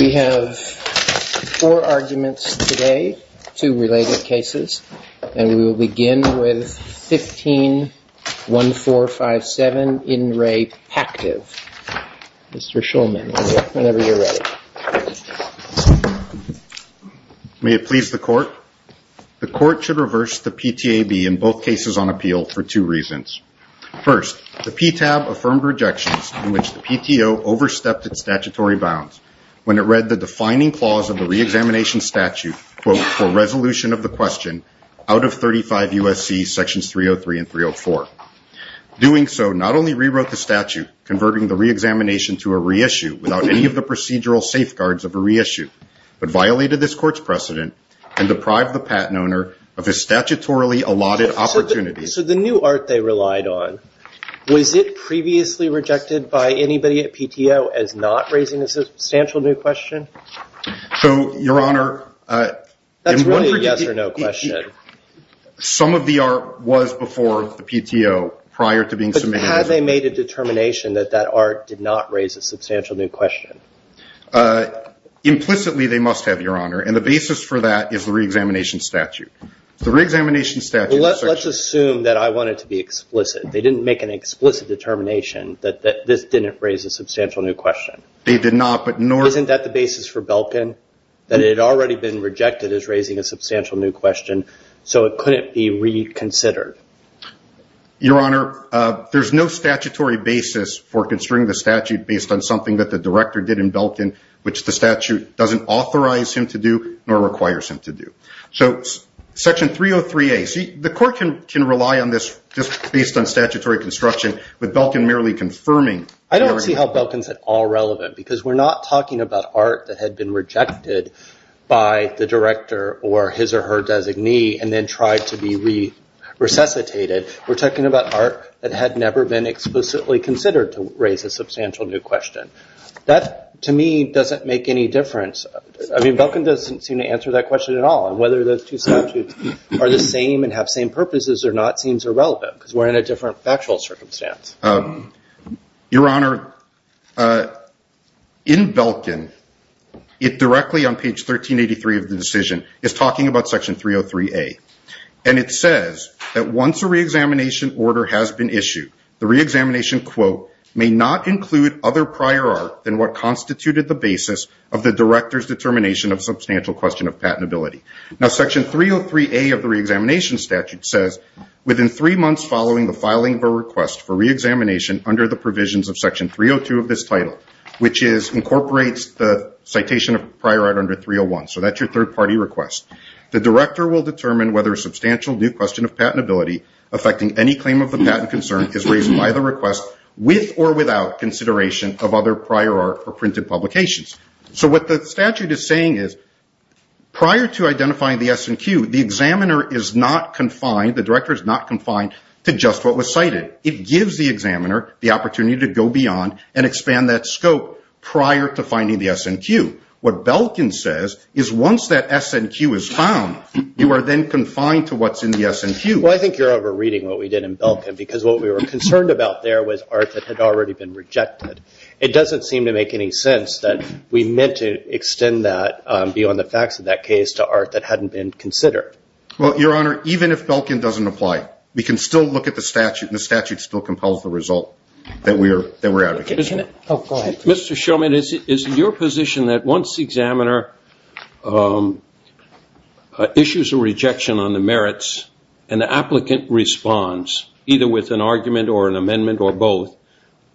We have four arguments today, two related cases, and we will begin with 15-1457 In Re Pactiv. Mr. Shulman, whenever you're ready. May it please the court, the court should reverse the PTAB in both cases on appeal for two reasons. First, the PTAB affirmed rejections in which the PTO overstepped its statutory bounds when it read the defining clause of the reexamination statute, quote, for resolution of the question out of 35 U.S.C. sections 303 and 304. Doing so not only rewrote the statute, converting the reexamination to a reissue without any of the procedural safeguards of a reissue, but violated this court's precedent and deprived the patent owner of a statutorily allotted opportunity. So the new art they relied on, was it previously rejected by anybody at PTO as not raising a substantial new question? So Your Honor, some of the art was before the PTO prior to being submitted. Had they made a determination that that art did not raise a substantial new question? Implicitly, they must have, Your Honor, and the basis for that is the reexamination statute. The reexamination statute... Let's assume that I want it to be explicit. They didn't make an explicit determination that this didn't raise a substantial new question. They did not, but nor... Isn't that the basis for Belkin, that it had already been rejected as raising a substantial new question, so it couldn't be reconsidered? Your Honor, there's no statutory basis for constricting the statute based on something that the director did in Belkin, which the statute doesn't authorize him to do, nor requires him to do. So Section 303A, the court can rely on this just based on statutory construction, with Belkin merely confirming... I don't see how Belkin's at all relevant, because we're not talking about art that had been rejected by the director or his or her designee and then tried to be resuscitated. We're talking about art that had never been explicitly considered to raise a substantial new question. That, to me, doesn't make any difference. I mean, Belkin doesn't seem to answer that question at all. And whether those two statutes are the same and have same purposes or not seems irrelevant, because we're in a different factual circumstance. Your Honor, in Belkin, it directly on page 1383 of the decision, is talking about Section 303A. And it says that once a reexamination order has been issued, the reexamination, quote, may not include other prior art than what constituted the basis of the director's determination of a substantial question of patentability. Now, Section 303A of the reexamination statute says, within three months following the filing of a request for reexamination under the provisions of Section 302 of this title, which incorporates the citation of prior art under 301, so that's your third-party request, the director will determine whether a substantial new question of patentability affecting any claim of the patent concern is raised by the request with or without consideration of other prior art or printed publications. So what the statute is saying is, prior to identifying the S&Q, the examiner is not confined, the director is not confined, to just what was cited. It gives the examiner the opportunity to go beyond and expand that scope prior to finding the S&Q. What Belkin says is once that S&Q is found, you are then confined to what's in the S&Q. Well, I think you're over-reading what we did in Belkin, because what we were concerned about there was art that had already been rejected. It doesn't seem to make any sense that we meant to extend that beyond the facts of that case to art that hadn't been considered. Well, Your Honor, even if Belkin doesn't apply, we can still look at the statute and the statute still compels the result that we're advocating. Mr. Shulman, is it your position that once the examiner issues a rejection on the merits, an applicant responds, either with an argument or an amendment or both,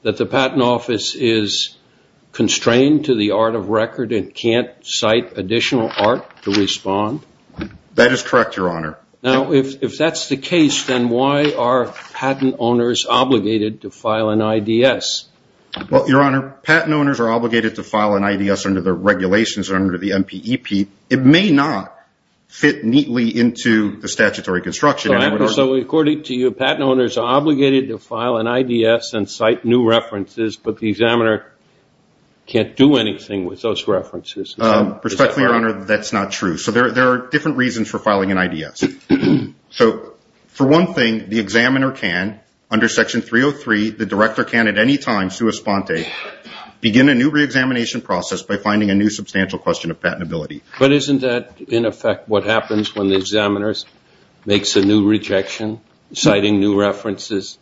that the Patent Office is constrained to the art of record and can't cite additional art to respond? That is correct, Your Honor. Now, if that's the case, then why are patent owners obligated to file an IDS? Well, Your Honor, patent owners are obligated to file an IDS under the regulations under the MPEP. It may not fit neatly into the statutory construction. So, according to you, patent owners are obligated to file an IDS and cite new references, but the examiner can't do anything with those references? Respectfully, Your Honor, that's not true. So there are different reasons for filing an IDS. So for one thing, the examiner can, under Section 303, the director can at any time, sua sponte, begin a new re-examination process by finding a new substantial question of patentability. But isn't that, in effect, what happens when the examiner makes a new rejection, citing new references?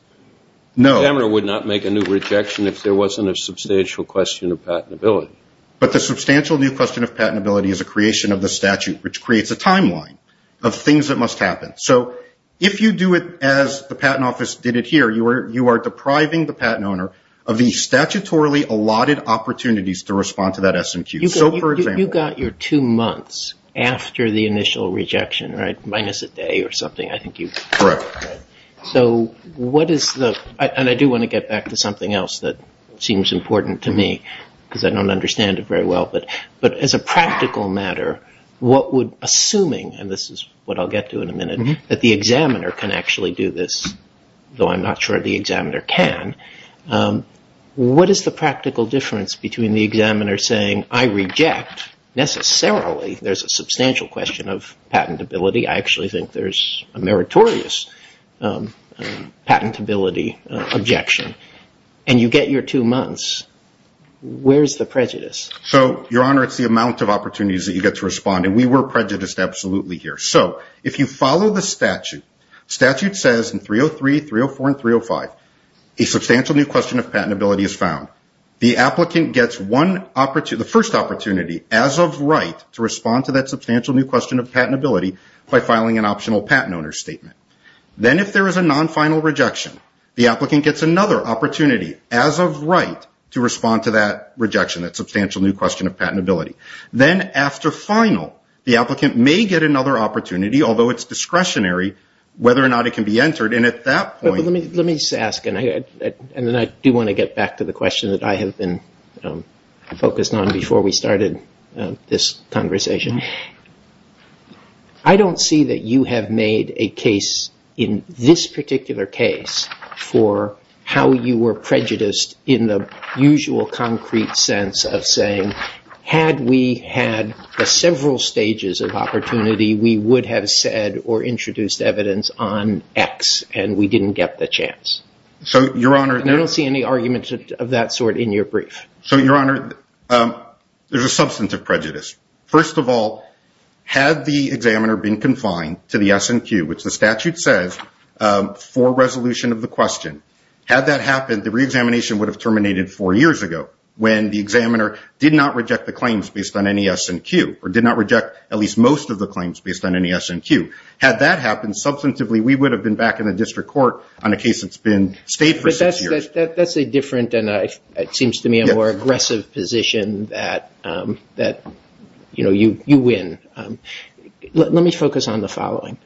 No. The examiner would not make a new rejection if there wasn't a substantial question of patentability. But the substantial new question of patentability is a creation of the statute, which creates a timeline of things that must happen. So, if you do it as the Patent Office did it here, you are depriving the patent owner of the statutorily allotted opportunities to respond to that SMQ. So, you got your two months after the initial rejection, right, minus a day or something, I think you... Correct. So, what is the, and I do want to get back to something else that seems important to me because I don't understand it very well, but as a practical matter, what would, assuming, and this is what I'll get to in a minute, that the examiner can actually do this, though I'm not sure the examiner can, what is the practical difference between the examiner saying, I reject, necessarily, there's a substantial question of patentability, I actually think there's a meritorious patentability objection, and you get your two months, where's the prejudice? So, Your Honor, it's the amount of opportunities that you get to respond, and we were prejudiced absolutely here. So, if you follow the statute, statute says in 303, 304, and 305, a substantial new question of patentability is found. The applicant gets one opportunity, the first opportunity, as of right, to respond to that substantial new question of patentability by filing an optional patent owner statement. Then if there is a non-final rejection, the applicant gets another opportunity as of right to respond to that rejection, that substantial new question of patentability. Then after final, the applicant may get another opportunity, although it's discretionary, whether or not it can be entered, and at that point... And then I do want to get back to the question that I have been focused on before we started this conversation. I don't see that you have made a case in this particular case for how you were prejudiced in the usual concrete sense of saying, had we had the several stages of opportunity, we would have said or introduced evidence on X, and we didn't get the chance. I don't see any argument of that sort in your brief. Your Honor, there's a substantive prejudice. First of all, had the examiner been confined to the S&Q, which the statute says for resolution of the question, had that happened, the re-examination would have terminated four years ago when the examiner did not reject the claims based on any S&Q, or did not reject at least most of the claims based on any S&Q. Had that happened, substantively, we would have been back in the district court on a case that's been stayed for six years. That's a different, and it seems to me, a more aggressive position that you win. Let me focus on the following.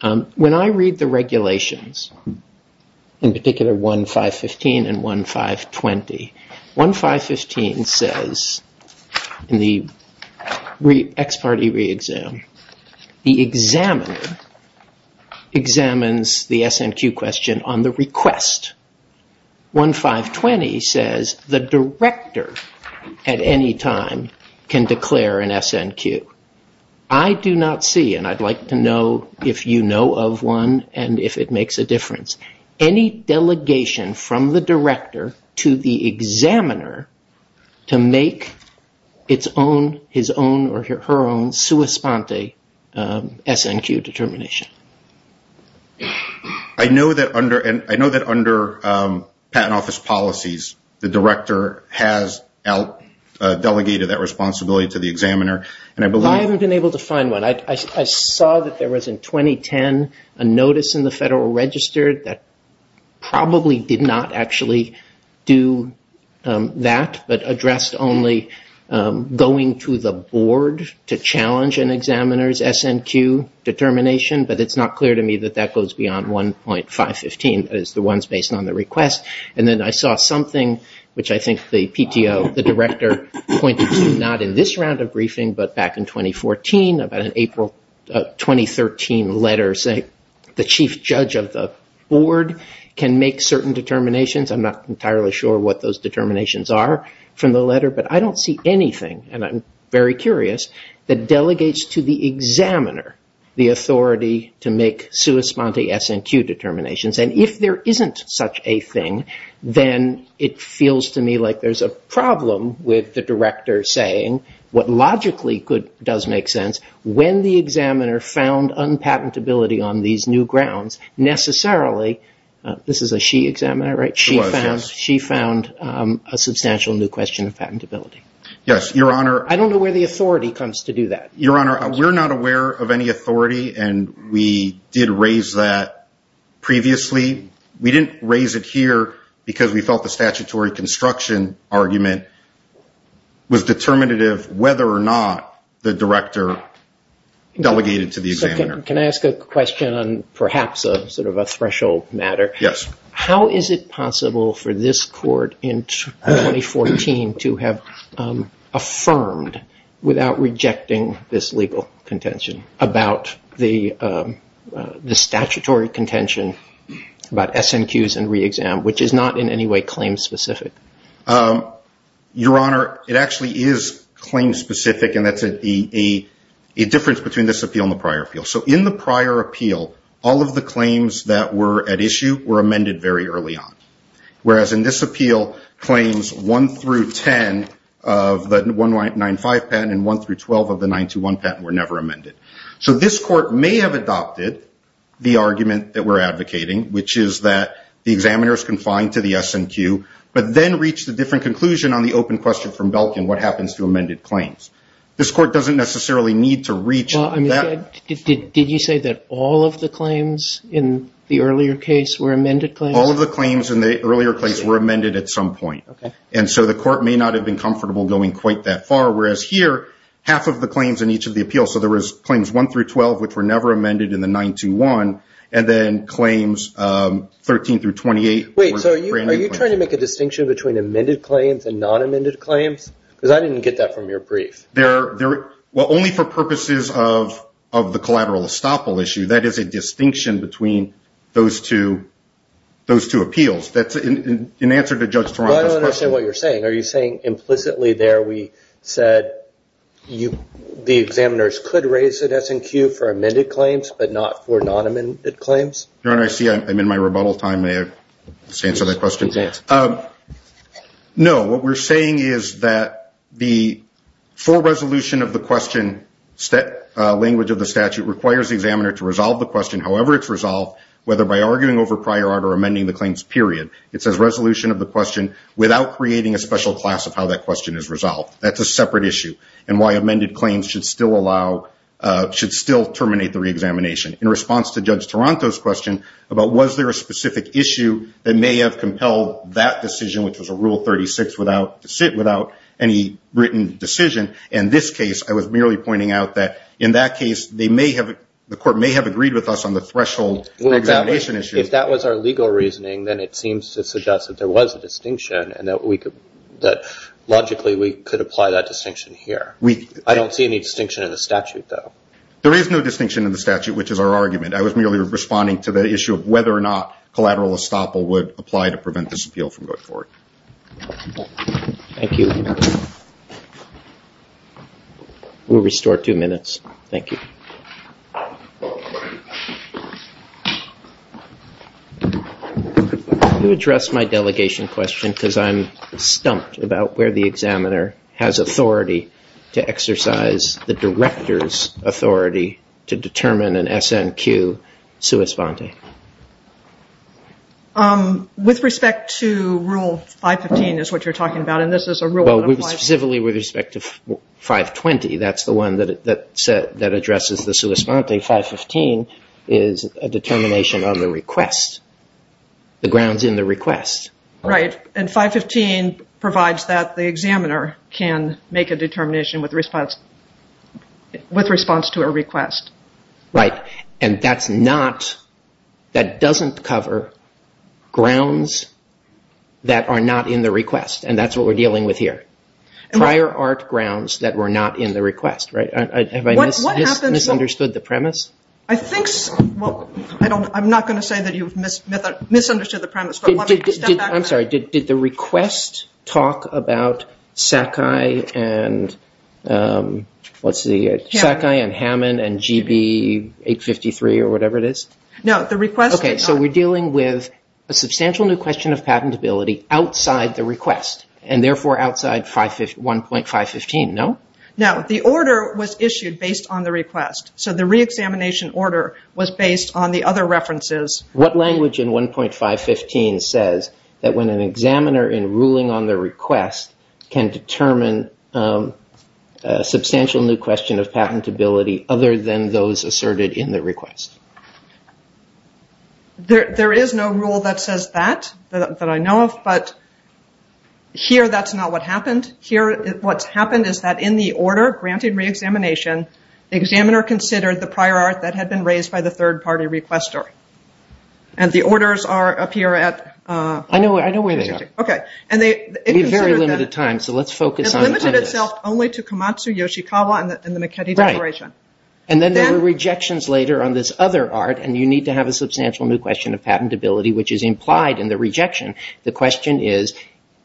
When I read the regulations, in particular 1.515 and 1.520, 1.515 says, in the ex-parte re-exam, the examiner examines the S&Q question on the request. 1.520 says, the director, at any time, can declare an S&Q. I do not see, and I'd like to know if you know of one and if it makes a difference, any delegation from the director to the examiner to make his own or her own sua sponte S&Q determination. I know that under patent office policies, the director has delegated that responsibility to the examiner. I haven't been able to find one. I saw that there was, in 2010, a notice in the Federal Register that probably did not actually do that, but addressed only going to the board to challenge an examiner's S&Q determination, but it's not clear to me that that goes beyond 1.515 as the ones based on the request. Then I saw something, which I think the PTO, the director, pointed to, not in this round of briefing, but back in 2014, about an April 2013 letter saying the chief judge of the board can make certain determinations. I'm not entirely sure what those determinations are from the letter, but I don't see anything, and I'm very curious, that delegates to the examiner the authority to make sua sponte S&Q determinations. If there isn't such a thing, then it feels to me like there's a problem with the director saying what logically does make sense, when the examiner found unpatentability on these new grounds, necessarily, this is a she examiner, right? She found a substantial new question of patentability. I don't know where the authority comes to do that. Your Honor, we're not aware of any authority, and we did raise that previously. We didn't raise it here because we felt the statutory construction argument was determinative whether or not the director delegated to the examiner. Can I ask a question on perhaps a threshold matter? Yes. How is it possible for this court in 2014 to have affirmed without rejecting this legal contention about S&Qs and re-exam, which is not in any way claim-specific? Your Honor, it actually is claim-specific, and that's a difference between this appeal and the prior appeal. So in the prior appeal, all of the claims that were at issue were amended very early on, whereas in this appeal, claims 1 through 10 of the 195 patent and 1 through 12 of the 921 patent were never amended. So this court may have adopted the argument that we're advocating, which is that the examiner is confined to the S&Q, but then reached a different conclusion on the open question from Belkin, what happens to amended claims? This court doesn't necessarily need to reach that. Did you say that all of the claims in the earlier case were amended claims? All of the claims in the earlier case were amended at some point, and so the court may not have been comfortable going quite that far, whereas here, half of the claims in each of the appeals, so there was claims 1 through 12, which were never amended in the 921, and then claims 13 through 28 were brand new claims. Wait, so are you trying to make a distinction between amended claims and non-amended claims? Because I didn't get that from your brief. Well, only for purposes of the collateral estoppel issue. That is a distinction between those two appeals. That's an answer to Judge Toronto's question. Well, I don't understand what you're saying. Are you saying implicitly there we said the examiners could raise the S&Q for amended claims, but not for non-amended claims? Your Honor, I see I'm in my rebuttal time. May I just answer that question? No, what we're saying is that the full resolution of the question, language of the statute, requires the examiner to resolve the question, however it's resolved, whether by arguing over prior art or amending the claims, period. It says resolution of the question without creating a special class of how that question is resolved. That's a separate issue, and why amended claims should still allow, should still terminate the reexamination. In response to Judge Toronto's question about was there a specific issue that may have compelled that decision, which was a Rule 36, without any written decision, in this case, I was merely pointing out that in that case, they may have, the court may have agreed with us on the threshold reexamination issue. If that was our legal reasoning, then it seems to suggest that there was a distinction, and that logically, we could apply that distinction here. I don't see any distinction in the statute, though. There is no distinction in the statute, which is our argument. I was merely responding to the issue of whether or not collateral estoppel would apply to prevent this appeal from going forward. Thank you. We'll restore two minutes. Thank you. I'm going to address my delegation question, because I'm stumped about where the examiner has authority to exercise the director's authority to determine an SNQ sua sponte. With respect to Rule 515, is what you're talking about, and this is a Rule that applies to 520, that's the one that addresses the sua sponte, 515 is a determination on the request, the grounds in the request. Right. And 515 provides that the examiner can make a determination with response to a request. Right. And that's not, that doesn't cover grounds that are not in the request, and that's what we're dealing with here. Prior art grounds that were not in the request, right? Have I misunderstood the premise? I think, well, I'm not going to say that you've misunderstood the premise, but let me step back a minute. I'm sorry, did the request talk about SACAI and, what's the, SACAI and Hammond and GB853 or whatever it is? No, the request did not. Okay, so we're dealing with a substantial new question of patentability outside the 1.515, no? No, the order was issued based on the request, so the re-examination order was based on the other references. What language in 1.515 says that when an examiner in ruling on the request can determine a substantial new question of patentability other than those asserted in the request? There is no rule that says that, that I know of, but here that's not what happened. Here what's happened is that in the order granting re-examination, the examiner considered the prior art that had been raised by the third party requester, and the orders are up here at... I know where they are. Okay, and they... We have very limited time, so let's focus on this. It's limited itself only to Komatsu, Yoshikawa, and the McKinney Declaration. And then there were rejections later on this other art, and you need to have a substantial new question of patentability, which is implied in the rejection. The question is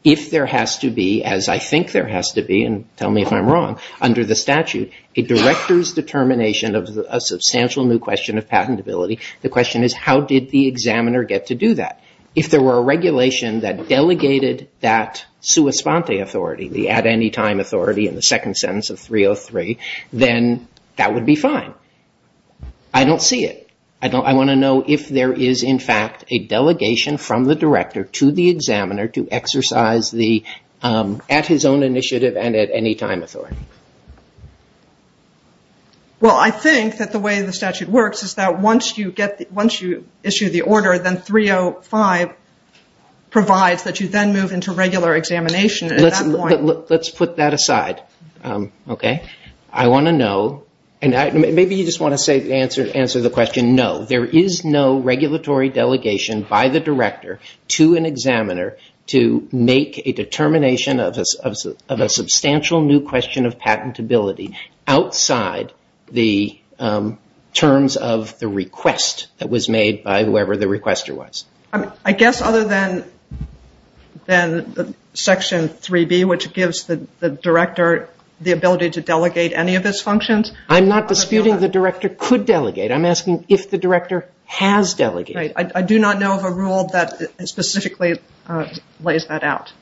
if there has to be, as I think there has to be, and tell me if I'm wrong, under the statute, a director's determination of a substantial new question of patentability, the question is how did the examiner get to do that? If there were a regulation that delegated that sua sponte authority, the at any time authority in the second sentence of 303, then that would be fine. I don't see it. I want to know if there is, in fact, a delegation from the director to the examiner to exercise the at-his-own-initiative and at-any-time authority. Well, I think that the way the statute works is that once you issue the order, then 305 Let's put that aside. I want to know, and maybe you just want to answer the question, no, there is no regulatory delegation by the director to an examiner to make a determination of a substantial new question of patentability outside the terms of the request that was made by whoever the requester was. I guess other than Section 3B, which gives the director the ability to delegate any of its functions. I'm not disputing the director could delegate. I'm asking if the director has delegated. I do not know of a rule that specifically lays that out.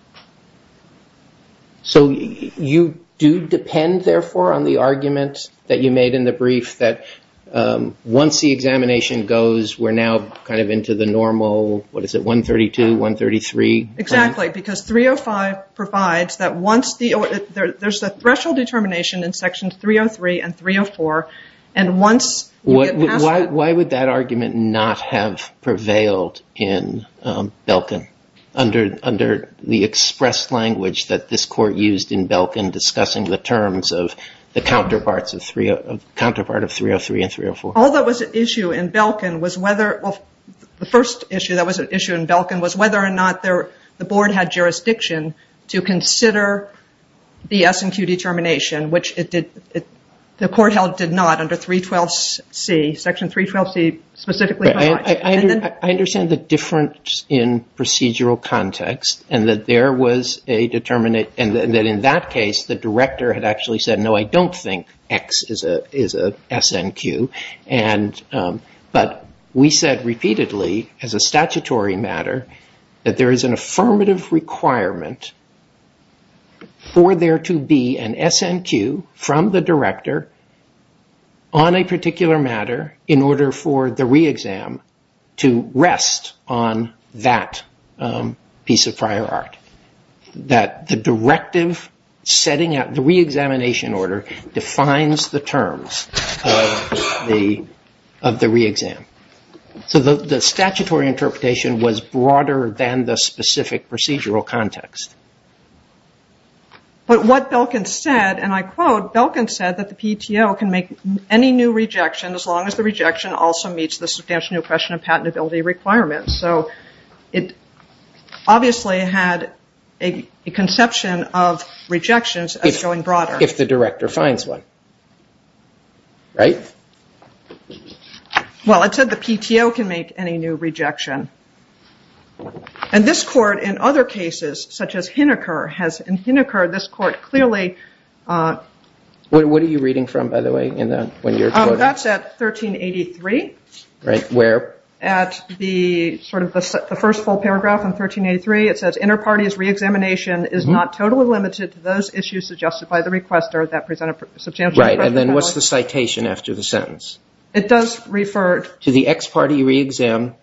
So you do depend, therefore, on the argument that you made in the brief that once the examination goes, we're now kind of into the normal, what is it, 132, 133? Exactly, because 305 provides that once the, there's a threshold determination in Section 303 and 304, and once you get past that. Why would that argument not have prevailed in Belkin under the express language that this court used in Belkin discussing the terms of the counterpart of 303 and 304? All that was at issue in Belkin was whether, well, the first issue that was at issue in Belkin was whether or not the board had jurisdiction to consider the S&Q determination, which it did, the court held did not under 312C, Section 312C specifically. I understand the difference in procedural context and that there was a, and that in that case, the director had actually said, no, I don't think X is a S&Q, but we said repeatedly as a statutory matter that there is an affirmative requirement for there to be an S&Q from the director on a particular matter in order for the re-exam to rest on that piece of prior art, that the directive setting out, the re-examination order defines the terms of the re-exam, so the statutory interpretation was broader than the specific procedural context. But what Belkin said, and I quote, Belkin said that the PTO can make any new rejection as long as the rejection also meets the substantial new question of patentability requirements, so it obviously had a conception of rejections as going broader. If the director finds one, right? Well, it said the PTO can make any new rejection. And this court in other cases, such as Hineker, has, in Hineker, this court clearly. What are you reading from, by the way, in that, when you're quoting? That's at 1383. Right. Where? At the, sort of, the first full paragraph in 1383, it says, inter-parties re-examination is not totally limited to those issues suggested by the requester that present a substantial new question of patentability. Right, and then what's the citation after the sentence? It does refer to the ex-party re-exam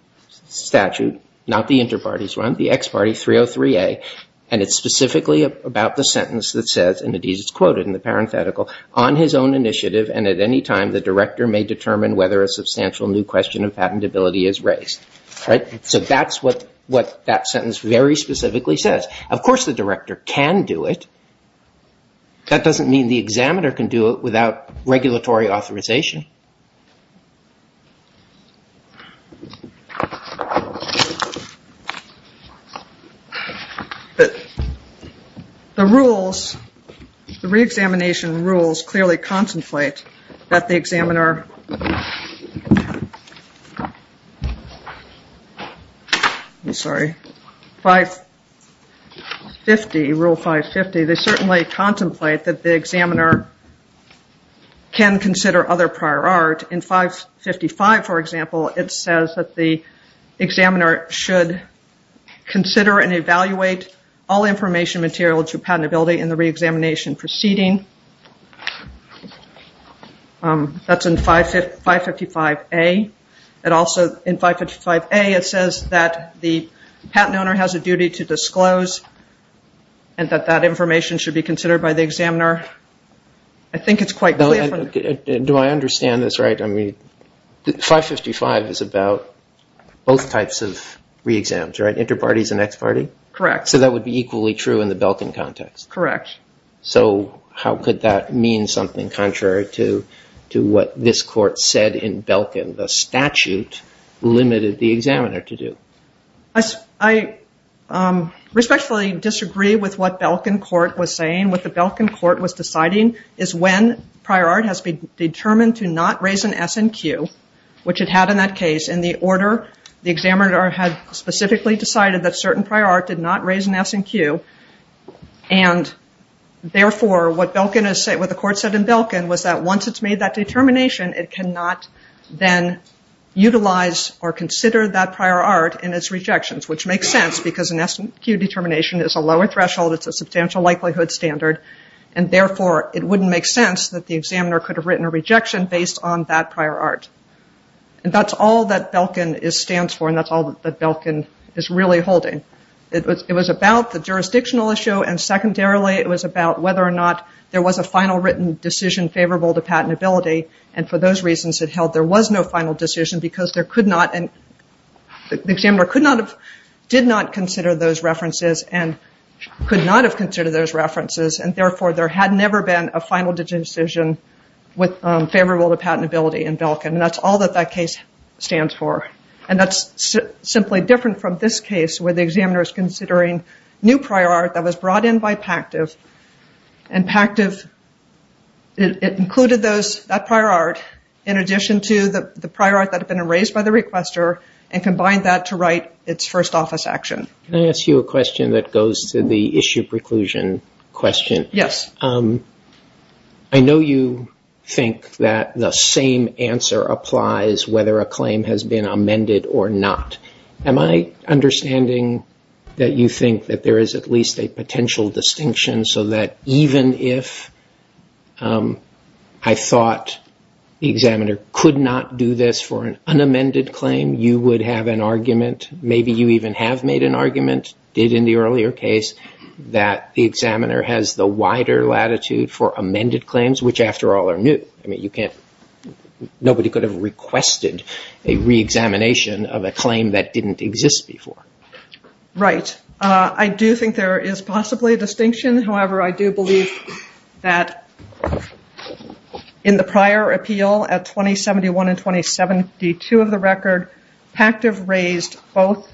statute, not the inter-parties one, the ex-party 303A, and it's specifically about the sentence that says, and it is quoted in the parenthetical, on his own initiative and at any time the director may determine whether a substantial new question of patentability is raised. Right? So that's what that sentence very specifically says. Of course the director can do it. That doesn't mean the examiner can do it without regulatory authorization. But the rules, the re-examination rules clearly contemplate that the examiner, sorry, 550, Rule 550, they certainly contemplate that the examiner can consider other prior art. In 555, for example, it says that the examiner should consider and evaluate all information material to patentability in the re-examination proceeding. That's in 555A. It also, in 555A, it says that the patent owner has a duty to disclose and that that information should be considered by the examiner. I think it's quite clear. Do I understand this right? I mean, 555 is about both types of re-exams, right? Inter-parties and ex-party? Correct. So that would be equally true in the Belkin context? Correct. So how could that mean something contrary to what this court said in Belkin? The statute limited the examiner to do. I respectfully disagree with what Belkin court was saying. What the Belkin court was deciding is when prior art has been determined to not raise an S and Q, which it had in that case, in the order the examiner had specifically decided that certain prior art did not raise an S and Q, and therefore, what the court said in Belkin was that once it's made that determination, it cannot then utilize or consider that prior art in its rejections, which makes sense because an S and Q determination is a lower threshold. It's a substantial likelihood standard, and therefore, it wouldn't make sense that the examiner could have written a rejection based on that prior art. And that's all that Belkin stands for, and that's all that Belkin is really holding. It was about the jurisdictional issue, and secondarily, it was about whether or not there was a final written decision favorable to patentability, and for those reasons, it held there was no final decision because the examiner did not consider those references and could not have considered those references, and therefore, there had never been a final decision favorable to patentability in Belkin, and that's all that that case stands for, and that's simply different from this case where the examiner is considering new prior art that was brought in by PACTIV, and PACTIV, it included that prior art in addition to the prior art that had been erased by the requester and combined that to write its first office action. Can I ask you a question that goes to the issue preclusion question? Yes. I know you think that the same answer applies whether a claim has been amended or not. Am I understanding that you think that there is at least a potential distinction so that even if I thought the examiner could not do this for an unamended claim, you would have an argument, maybe you even have made an argument, did in the earlier case, that the examiner has the wider latitude for amended claims, which after all are new? Nobody could have requested a re-examination of a claim that didn't exist before. Right. I do think there is possibly a distinction, however, I do believe that in the prior appeal at 2071 and 2072 of the record, PACTIV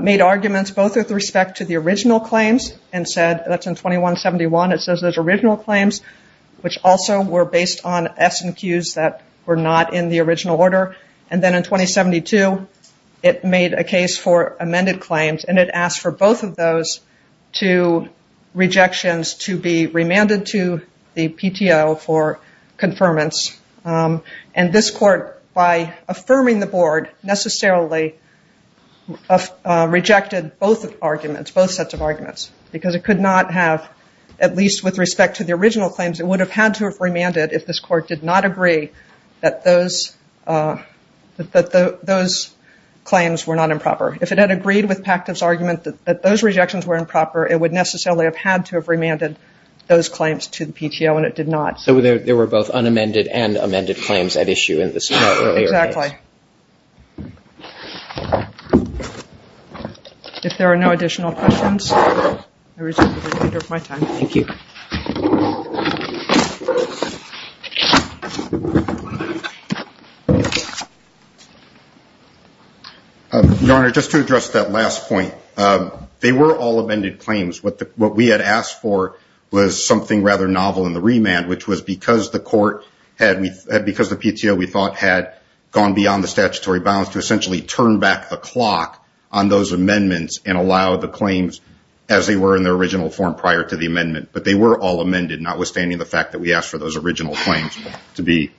made arguments both with respect to the original claims and said, that's in 2171, it says those original claims, which also were based on S&Qs that were not in the original order, and then in 2072, it made a case for amended claims, and it asked for both of those two rejections to be remanded to the PTO for confirmance, and this court, by affirming the board, necessarily rejected both arguments, both sets of arguments, because it could not have, at least with respect to the original claims, it would have had to have remanded if this court did not agree that those claims were not improper. If it had agreed with PACTIV's argument that those rejections were improper, it would necessarily have had to have remanded those claims to the PTO, and it did not. So there were both unamended and amended claims at issue in this earlier case. Exactly. If there are no additional questions, I will reserve the remainder of my time. Thank you. Your Honor, just to address that last point, they were all amended claims. What we had asked for was something rather novel in the remand, which was because the PTO, we thought, had gone beyond the statutory bounds to essentially turn back the clock on those amendments and allow the claims as they were in their original form prior to the amendment. But they were all amended, notwithstanding the fact that we asked for those original claims to be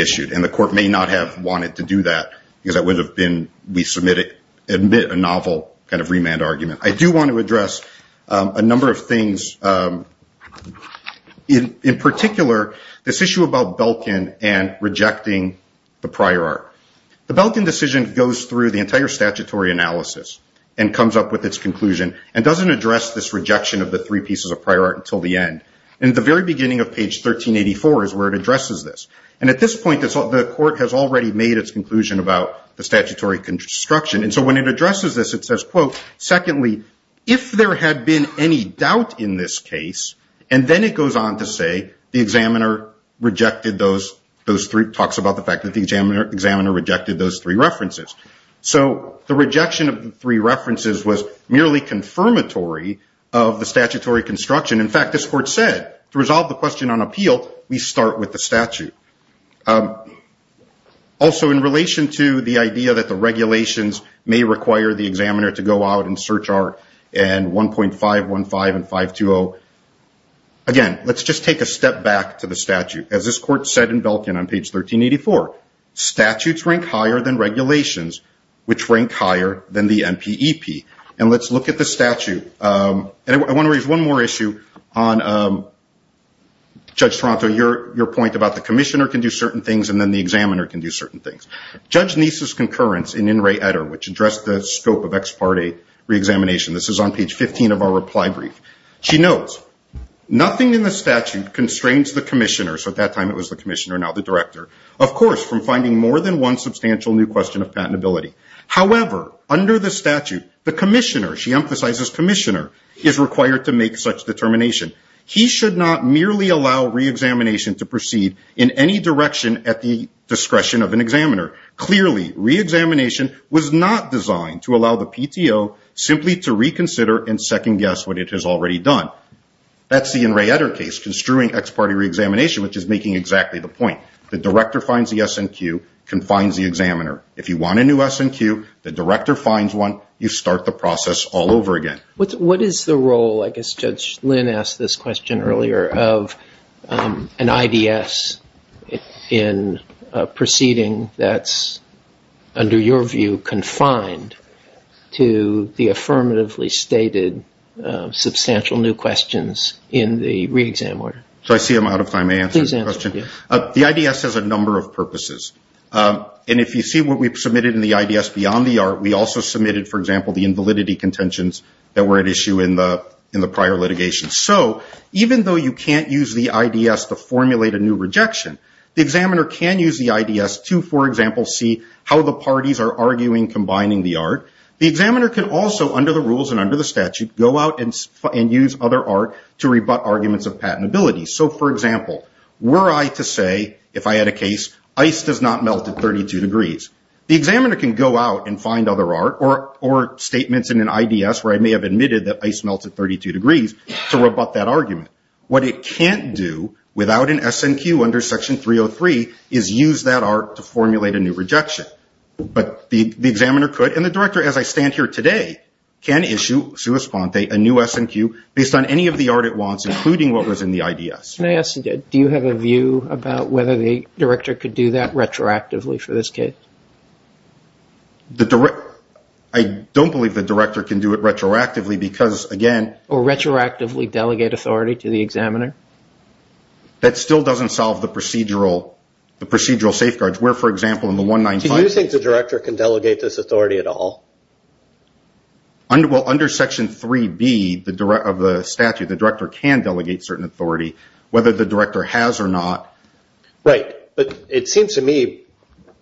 issued, and the court may not have wanted to do that, because that would have been, we submit a novel kind of remand argument. I do want to address a number of things, in particular, this issue about Belkin and rejecting the prior art. The Belkin decision goes through the entire statutory analysis and comes up with its conclusion, and doesn't address this rejection of the three pieces of prior art until the end. And at the very beginning of page 1384 is where it addresses this. And at this point, the court has already made its conclusion about the statutory construction. And so when it addresses this, it says, quote, secondly, if there had been any doubt in this case, and then it goes on to say the examiner rejected those three, talks about the fact that the examiner rejected those three references. So the rejection of the three references was merely confirmatory of the statutory construction. In fact, this court said, to resolve the question on appeal, we start with the statute. Also, in relation to the idea that the regulations may require the examiner to go out and search our 1.515 and 520, again, let's just take a step back to the statute. As this court said in Belkin on page 1384, statutes rank higher than regulations, which rank higher than the NPEP. And I want to raise one more issue on Judge Toronto. Your point about the commissioner can do certain things, and then the examiner can do certain things. Judge Niece's concurrence in In Re Etter, which addressed the scope of ex parte reexamination, this is on page 15 of our reply brief. She notes, nothing in the statute constrains the commissioner, so at that time it was the commissioner, now the director, of course, from finding more than one substantial new question of patentability. However, under the statute, the commissioner, she emphasizes commissioner, is required to make such determination. He should not merely allow reexamination to proceed in any direction at the discretion of an examiner. Clearly, reexamination was not designed to allow the PTO simply to reconsider and second guess what it has already done. That's the In Re Etter case, construing ex parte reexamination, which is making exactly the point. The director finds the SNQ, confines the examiner. If you want a new SNQ, the director finds one, you start the process all over again. What is the role, I guess Judge Lynn asked this question earlier, of an IDS in proceeding that's, under your view, confined to the affirmatively stated substantial new questions in the reexam order? So I see I'm out of time to answer the question. The IDS has a number of purposes. And if you see what we've submitted in the IDS beyond the ART, we also submitted, for example, the invalidity contentions that were at issue in the prior litigation. So even though you can't use the IDS to formulate a new rejection, the examiner can use the IDS to, for example, see how the parties are arguing combining the ART. The examiner can also, under the rules and under the statute, go out and use other ART to rebut arguments of patentability. So, for example, were I to say, if I had a case, ice does not melt at 32 degrees, the examiner can go out and find other ART or statements in an IDS where I may have admitted that ice melts at 32 degrees to rebut that argument. What it can't do without an SNQ under Section 303 is use that ART to formulate a new rejection. But the examiner could, and the director, as I stand here today, can issue, sua sponte, a new SNQ based on any of the ART it wants, including what was in the IDS. Can I ask, do you have a view about whether the director could do that retroactively for this case? I don't believe the director can do it retroactively because, again... Or retroactively delegate authority to the examiner? That still doesn't solve the procedural safeguards where, for example, in the 195... Do you think the director can delegate this authority at all? Well, under Section 3B of the statute, the director can delegate certain authority, whether the director has or not. Right, but it seems to me,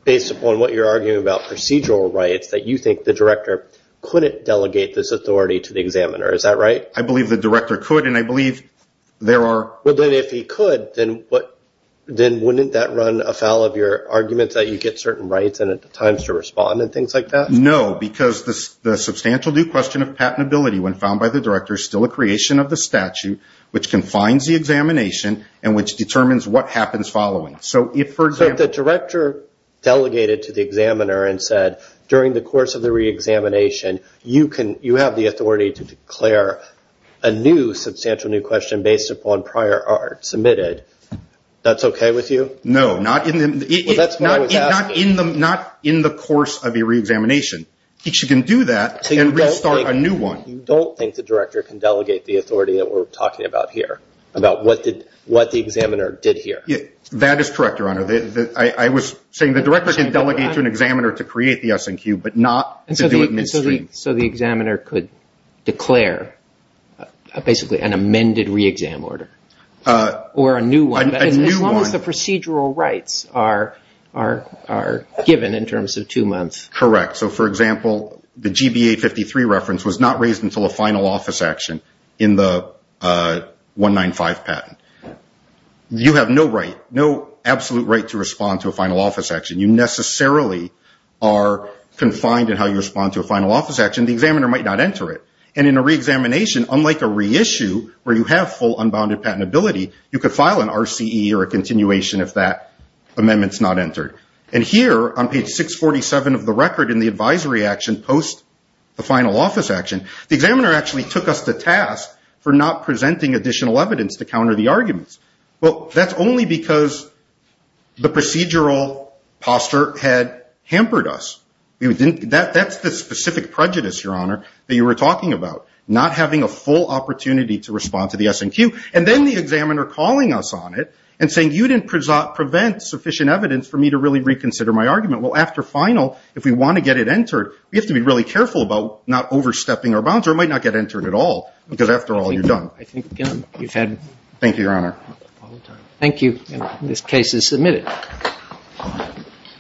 based upon what you're arguing about procedural rights, that you think the director couldn't delegate this authority to the examiner. Is that right? I believe the director could, and I believe there are... Well, then, if he could, then wouldn't that run afoul of your argument that you get certain rights and at times to respond and things like that? No, because the substantial due question of patentability, when found by the director, is still a creation of the statute, which confines the examination and which determines what happens following. So, if, for example... So, if the director delegated to the examiner and said, during the course of the reexamination, you have the authority to declare a new substantial due question based upon prior ART submitted, that's okay with you? No, not in the course of a reexamination. You can do that and restart a new one. So, you don't think the director can delegate the authority that we're talking about here, about what the examiner did here? That is correct, Your Honor. I was saying the director can delegate to an examiner to create the S&Q, but not to do it midstream. So, the examiner could declare, basically, an amended reexam order? Or a new one? A new one. As long as the procedural rights are given in terms of two months. Correct. So, for example, the GBA 53 reference was not raised until a final office action in the 195 patent. You have no right, no absolute right to respond to a final office action. You necessarily are confined in how you respond to a final office action. The examiner might not enter it. And in a reexamination, unlike a reissue, where you have full unbounded patentability, you could file an RCE or a continuation if that amendment's not entered. And here, on page 647 of the record in the advisory action, post the final office action, the examiner actually took us to task for not presenting additional evidence to counter the arguments. Well, that's only because the procedural posture had hampered us. That's the specific prejudice, Your Honor, that you were talking about. Not having a full opportunity to respond to the S&Q. And then the examiner calling us on it and saying, you didn't present sufficient evidence for me to really reconsider my argument. Well, after final, if we want to get it entered, we have to be really careful about not overstepping our bounds. Or it might not get entered at all, because after all, you're done. Thank you, Your Honor. Thank you. This case is submitted.